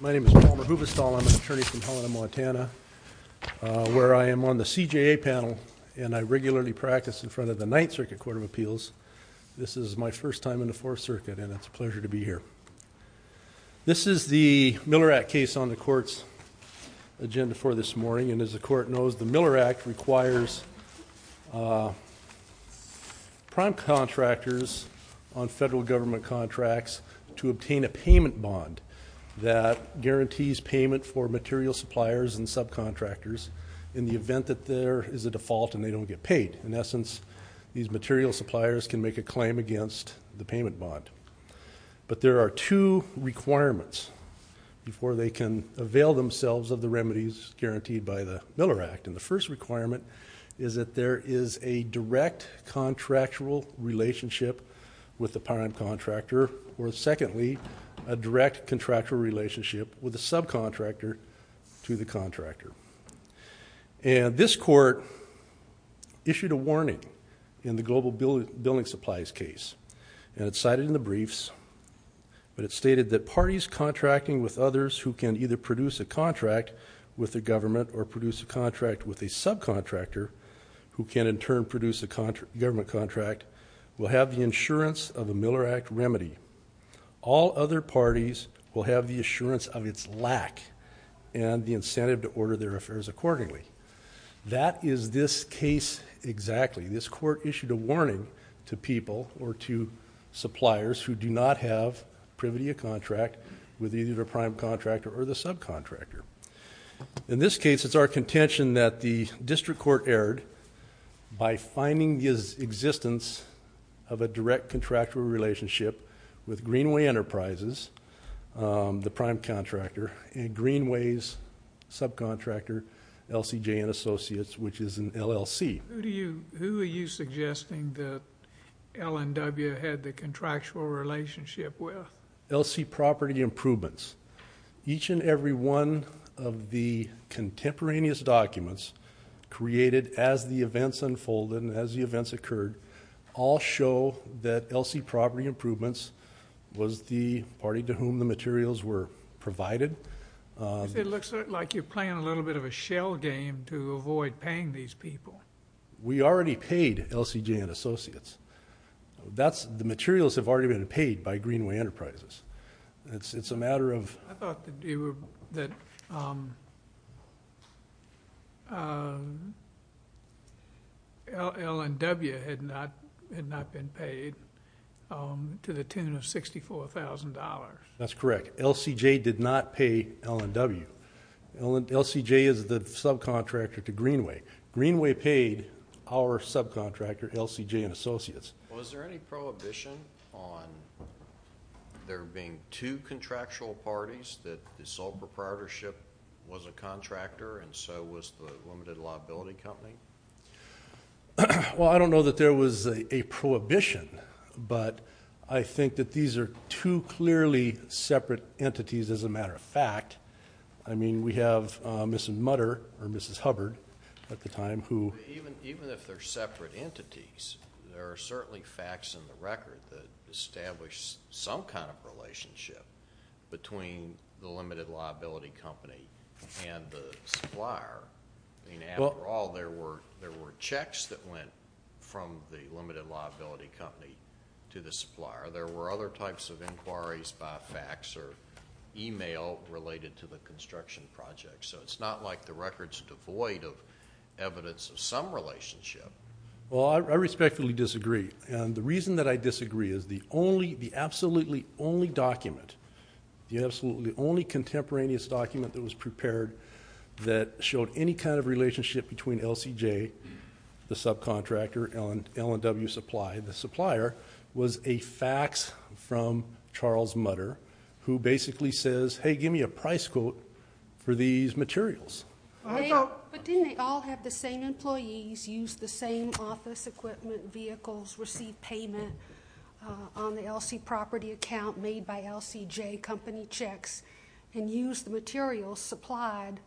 My name is Palmer Hubestall. I'm an attorney from Helena, Montana Where I am on the CJA panel, and I regularly practice in front of the Ninth Circuit Court of Appeals This is my first time in the Fourth Circuit, and it's a pleasure to be here This is the Miller Act case on the court's Agenda for this morning and as the court knows the Miller Act requires Prime contractors on federal government contracts to obtain a payment bond That guarantees payment for material suppliers and subcontractors in the event that there is a default and they don't get paid in essence These material suppliers can make a claim against the payment bond But there are two requirements Before they can avail themselves of the remedies guaranteed by the Miller Act and the first requirement is that there is a direct Contractual relationship with the prime contractor or secondly a direct contractual relationship with the subcontractor to the contractor and this court Issued a warning in the global building supplies case and it's cited in the briefs But it stated that parties contracting with others who can either produce a contract With the government or produce a contract with a subcontractor Who can in turn produce a contract government contract will have the insurance of a Miller Act remedy All other parties will have the assurance of its lack and the incentive to order their affairs accordingly That is this case exactly this court issued a warning to people or to Suppliers who do not have privity a contract with either prime contractor or the subcontractor In this case, it's our contention that the district court erred By finding his existence of a direct contractual relationship with Greenway Enterprises the prime contractor and Greenway's subcontractor LCJ and associates which is an LLC Who are you suggesting that? L&W had the contractual relationship with LC property improvements each and every one of contemporaneous documents Created as the events unfolded and as the events occurred all show that LC property improvements Was the party to whom the materials were provided? It looks like you're playing a little bit of a shell game to avoid paying these people. We already paid LCJ and associates That's the materials have already been paid by Greenway Enterprises. It's it's a matter of That L&W had not had not been paid to the tune of $64,000 that's correct. LCJ did not pay L&W LCJ is the subcontractor to Greenway Greenway paid our subcontractor LCJ and associates Was there any prohibition on There being two contractual parties that the sole proprietorship was a contractor and so was the limited liability company Well, I don't know that there was a Prohibition, but I think that these are two clearly separate entities as a matter of fact I mean we have miss and mutter or mrs. Hubbard at the time who? Even if they're separate entities, there are certainly facts in the record that establish some kind of relationship between the limited liability company and the supplier I mean overall there were there were checks that went from the limited liability company to the supplier there were other types of inquiries by fax or Email related to the construction project. So it's not like the records devoid of Some relationship Well, I respectfully disagree. And the reason that I disagree is the only the absolutely only document The absolutely only contemporaneous document that was prepared that showed any kind of relationship between LCJ the subcontractor on L&W supply the supplier was a fax from Charles mutter who basically says hey, give me a price quote for these materials But didn't they all have the same employees use the same office equipment vehicles receive payment On the LC property account made by LCJ company checks and use the materials supplied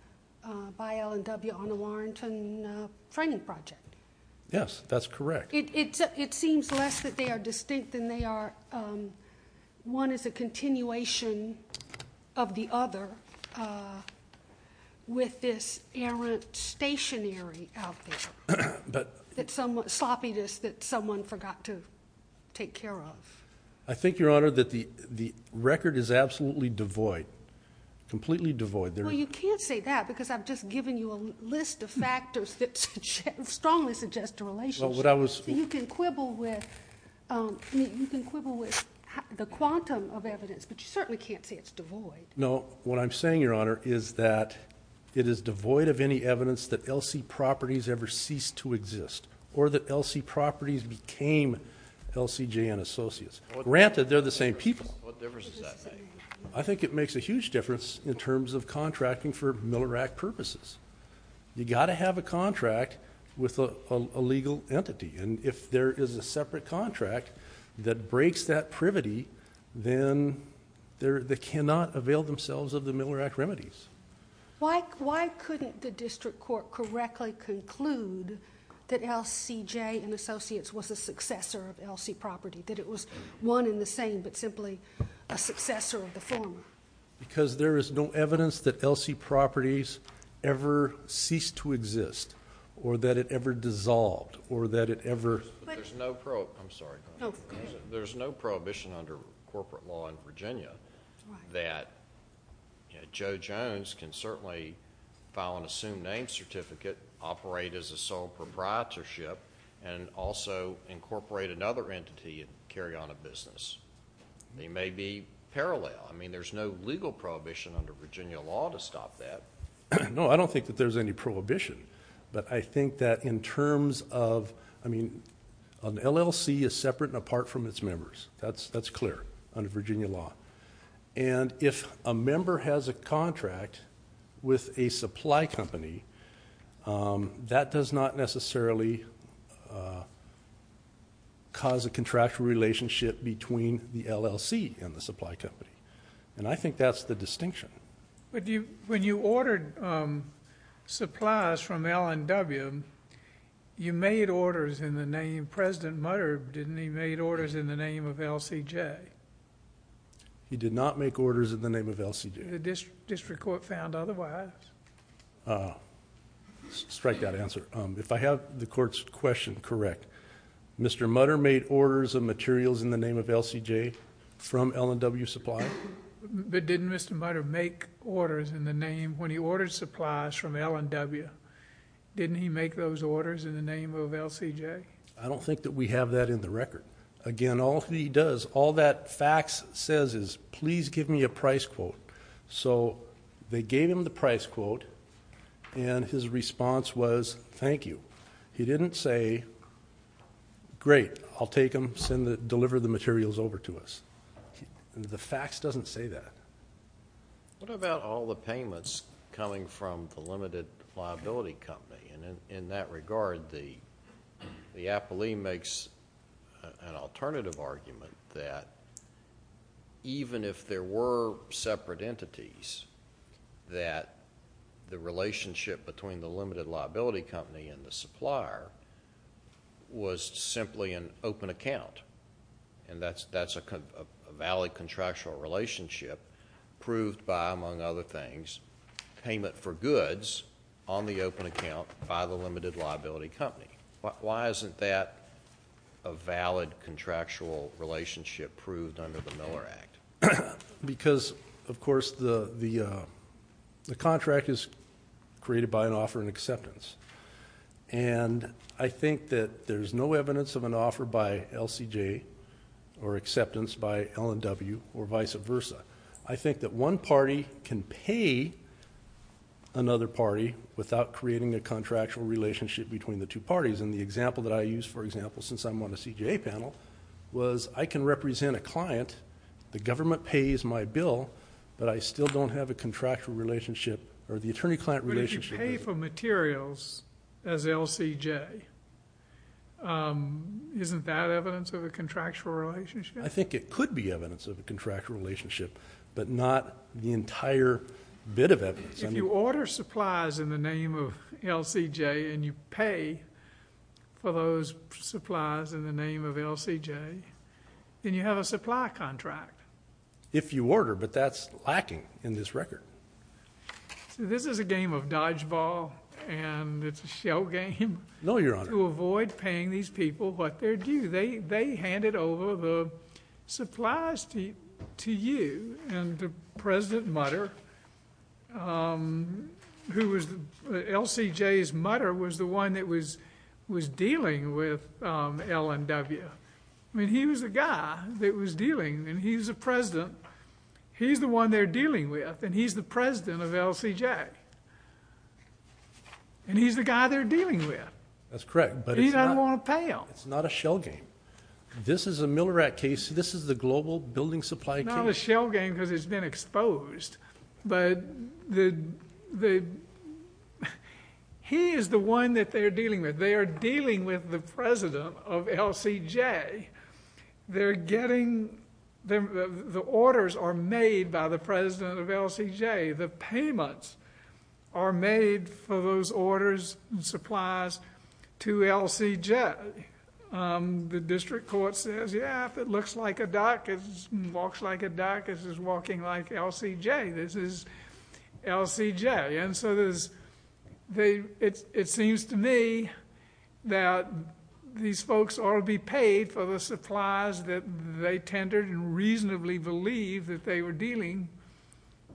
by L&W on the Warrington Training project. Yes, that's correct. It's it seems less that they are distinct than they are One is a continuation of the other With this errant stationary But it's somewhat sloppiness that someone forgot to take care of I think your honor that the the record is absolutely devoid Completely devoid there. You can't say that because I've just given you a list of factors that Strongly suggest a relationship what I was You can quibble with The quantum of evidence, but you certainly can't say it's devoid No what I'm saying your honor is that It is devoid of any evidence that LC properties ever ceased to exist or that LC properties became LCJ and associates granted. They're the same people. I Think it makes a huge difference in terms of contracting for Miller rack purposes You got to have a contract with a legal entity and if there is a separate contract that breaks that privity then They're they cannot avail themselves of the Miller act remedies Why why couldn't the district court correctly conclude? That LCJ and associates was a successor of LC property that it was one in the same But simply a successor of the former because there is no evidence that LC properties Ever ceased to exist or that it ever dissolved or that it ever There's no prohibition under corporate law in Virginia that Joe Jones can certainly file an assumed name certificate operate as a sole proprietorship and Also incorporate another entity and carry on a business They may be parallel. I mean, there's no legal prohibition under Virginia law to stop that No, I don't think that there's any prohibition But I think that in terms of I mean an LLC is separate and apart from its members That's that's clear under Virginia law. And if a member has a contract with a supply company That does not necessarily Cause a contractual relationship between the LLC and the supply company and I think that's the distinction But you when you ordered supplies from L&W You made orders in the name president murder. Didn't he made orders in the name of LCJ? He did not make orders in the name of LCJ district court found. Otherwise Strike that answer if I have the courts question, correct Mr. Mudder made orders of materials in the name of LCJ from L&W supply But didn't mr. Mudder make orders in the name when he ordered supplies from L&W Didn't he make those orders in the name of LCJ? I don't think that we have that in the record again All he does all that fax says is please give me a price quote So they gave him the price quote and his response was thank you. He didn't say Great. I'll take him send the deliver the materials over to us The fax doesn't say that what about all the payments coming from the limited liability company and in that regard the the Apple II makes an alternative argument that Even if there were separate entities that the relationship between the limited liability company and the supplier Was simply an open account and that's that's a valid contractual relationship proved by among other things payment for goods on the open account by the limited liability company, but why isn't that a valid contractual relationship proved under the Miller Act because of course the the the contract is created by an offer and acceptance and I think that there's no evidence of an offer by LCJ or Acceptance by L&W or vice versa. I think that one party can pay another party without creating a contractual relationship between the two parties and the example that I use for example Since I'm on a CJA panel was I can represent a client the government pays my bill But I still don't have a contractual relationship or the attorney-client relationship pay for materials as LCJ Um, isn't that evidence of a contractual relationship? I think it could be evidence of a contractual relationship, but not the entire Bit of evidence and you order supplies in the name of LCJ and you pay for those supplies in the name of LCJ Then you have a supply contract if you order but that's lacking in this record This is a game of dodgeball and it's a shell game No, your honor to avoid paying these people what they're due. They they handed over the Supplies to you and the president mutter Who was the LCJ's mutter was the one that was was dealing with L&W, I mean he was a guy that was dealing and he's a president He's the one they're dealing with and he's the president of LCJ And he's the guy they're dealing with that's correct, but he doesn't want to pay him it's not a shell game This is a Miller at case. This is the global building supply not a shell game because it's been exposed but the the He is the one that they're dealing with they are dealing with the president of LCJ They're getting The orders are made by the president of LCJ the payments are made for those orders supplies to LC jet The district court says yeah, if it looks like a doctor's walks like a doctor's is walking like LCJ. This is LCJ and so there's They it's it seems to me that These folks ought to be paid for the supplies that they tendered and reasonably believe that they were dealing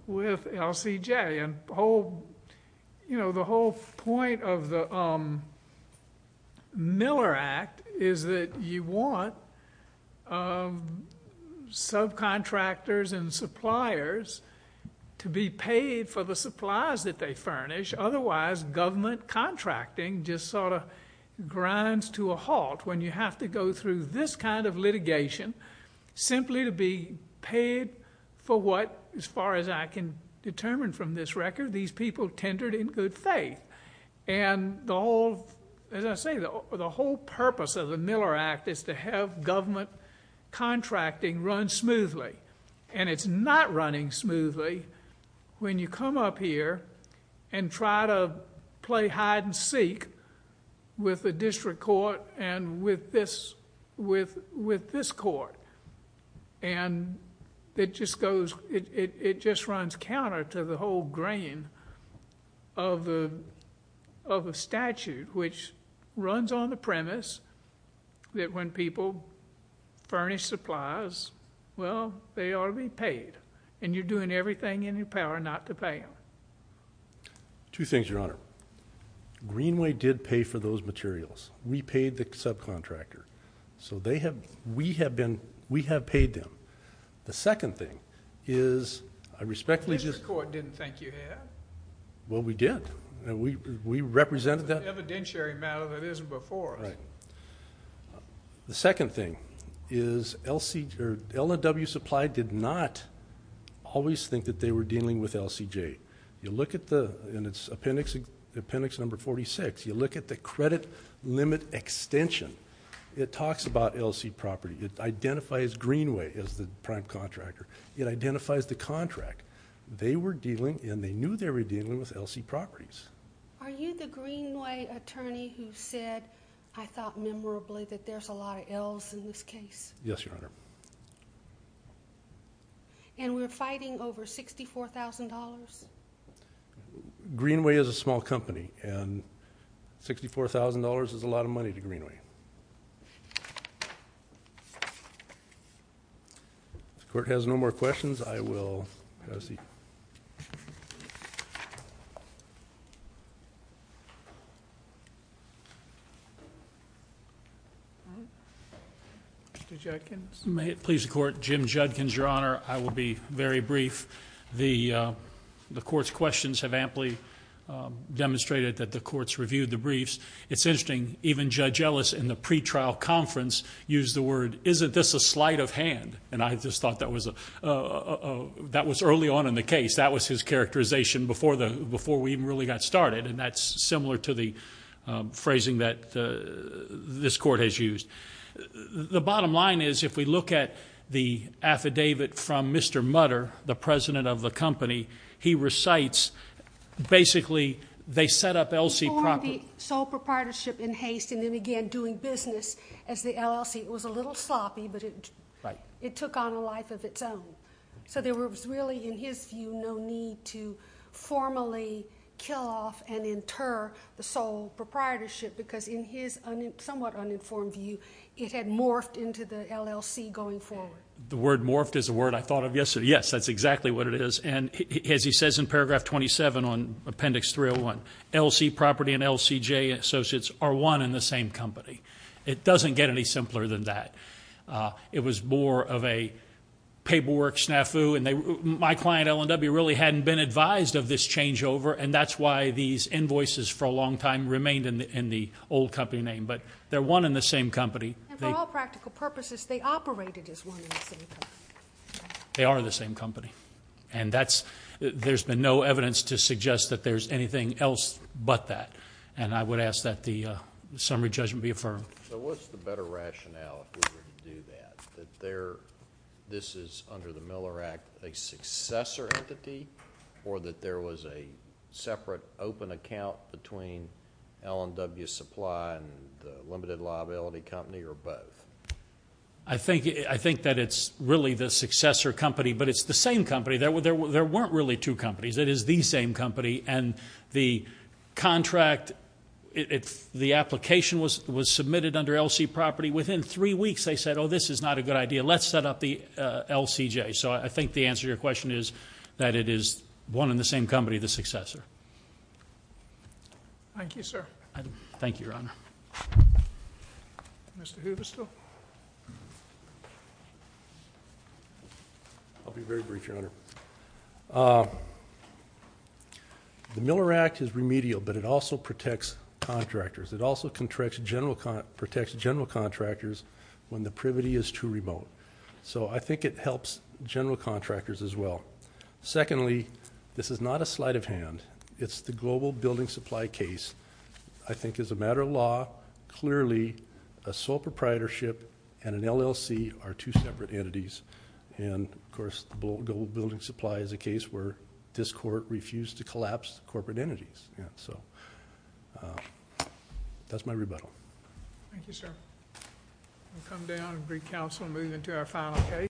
with LCJ and whole you know the whole point of the Miller Act is that you want Subcontractors and suppliers To be paid for the supplies that they furnish. Otherwise government contracting just sort of Grinds to a halt when you have to go through this kind of litigation simply to be paid for what as far as I can determine from this record these people tendered in good faith and The whole as I say the whole purpose of the Miller Act is to have government Contracting run smoothly and it's not running smoothly when you come up here and try to play hide-and-seek With the district court and with this with with this court and It just goes it just runs counter to the whole grain of the of a statute which runs on the premise that when people Furnish supplies. Well, they ought to be paid and you're doing everything in your power not to pay Two things your honor Greenway did pay for those materials We paid the subcontractor so they have we have been we have paid them. The second thing is I respectfully just court didn't thank you Well, we did and we we represented that evidentiary matter that isn't before right? the second thing is Lcd or LNW supply did not Always think that they were dealing with LCJ you look at the in its appendix Appendix number 46 you look at the credit limit extension It talks about LC property. It identifies Greenway as the prime contractor. It identifies the contract They were dealing and they knew they were dealing with LC properties Are you the Greenway attorney who said I thought memorably that there's a lot of L's in this case. Yes, your honor And we're fighting over $64,000 Greenway is a small company and $64,000 is a lot of money to Greenway The court has no more questions I will Please the court Jim Judkins your honor. I will be very brief the the court's questions have amply Demonstrated that the courts reviewed the briefs. It's interesting even judge Ellis in the pretrial conference used the word isn't this a sleight of hand and I just thought that was a That was early on in the case. That was his characterization before the before we even really got started and that's similar to the phrasing that This court has used The bottom line is if we look at the affidavit from mr. Mudder the president of the company he recites Basically, they set up LC property sole proprietorship in haste and then again doing business as the LLC It was a little sloppy, but it right it took on a life of its own. So there was really in his view no need to formally kill off and inter the sole Proprietorship because in his somewhat uninformed view it had morphed into the LLC going forward the word morphed is a word I thought of yesterday. Yes, that's exactly what it is And as he says in paragraph 27 on appendix 301 LC property and LCJ associates are one in the same company It doesn't get any simpler than that it was more of a paperwork snafu and they my client Ellen W really hadn't been advised of this changeover and that's why these Invoices for a long time remained in the old company name, but they're one in the same company They are the same company and that's there's been no evidence to suggest that there's anything else but that and I would ask that the Summary judgment be affirmed This is under the Miller Act a successor entity or that there was a Separate open account between Ellen W supply and the limited liability company or both. I Think I think that it's really the successor company, but it's the same company there were there weren't really two companies it is the same company and the Contract it's the application was was submitted under LC property within three weeks. They said oh, this is not a good idea Let's set up the LCJ. So I think the answer your question is that it is one in the same company the successor I Thank you, sir. Thank you, Your Honor The Miller Act is remedial, but it also protects Contractors it also contracts general con protects general contractors when the privity is too remote So I think it helps general contractors as well Secondly, this is not a sleight of hand. It's the global building supply case. I think as a matter of law clearly a sole proprietorship and an LLC are two separate entities and Of course the bullet gold building supply is a case where this court refused to collapse the corporate entities. Yeah, so That's my rebuttal Council moving to our final case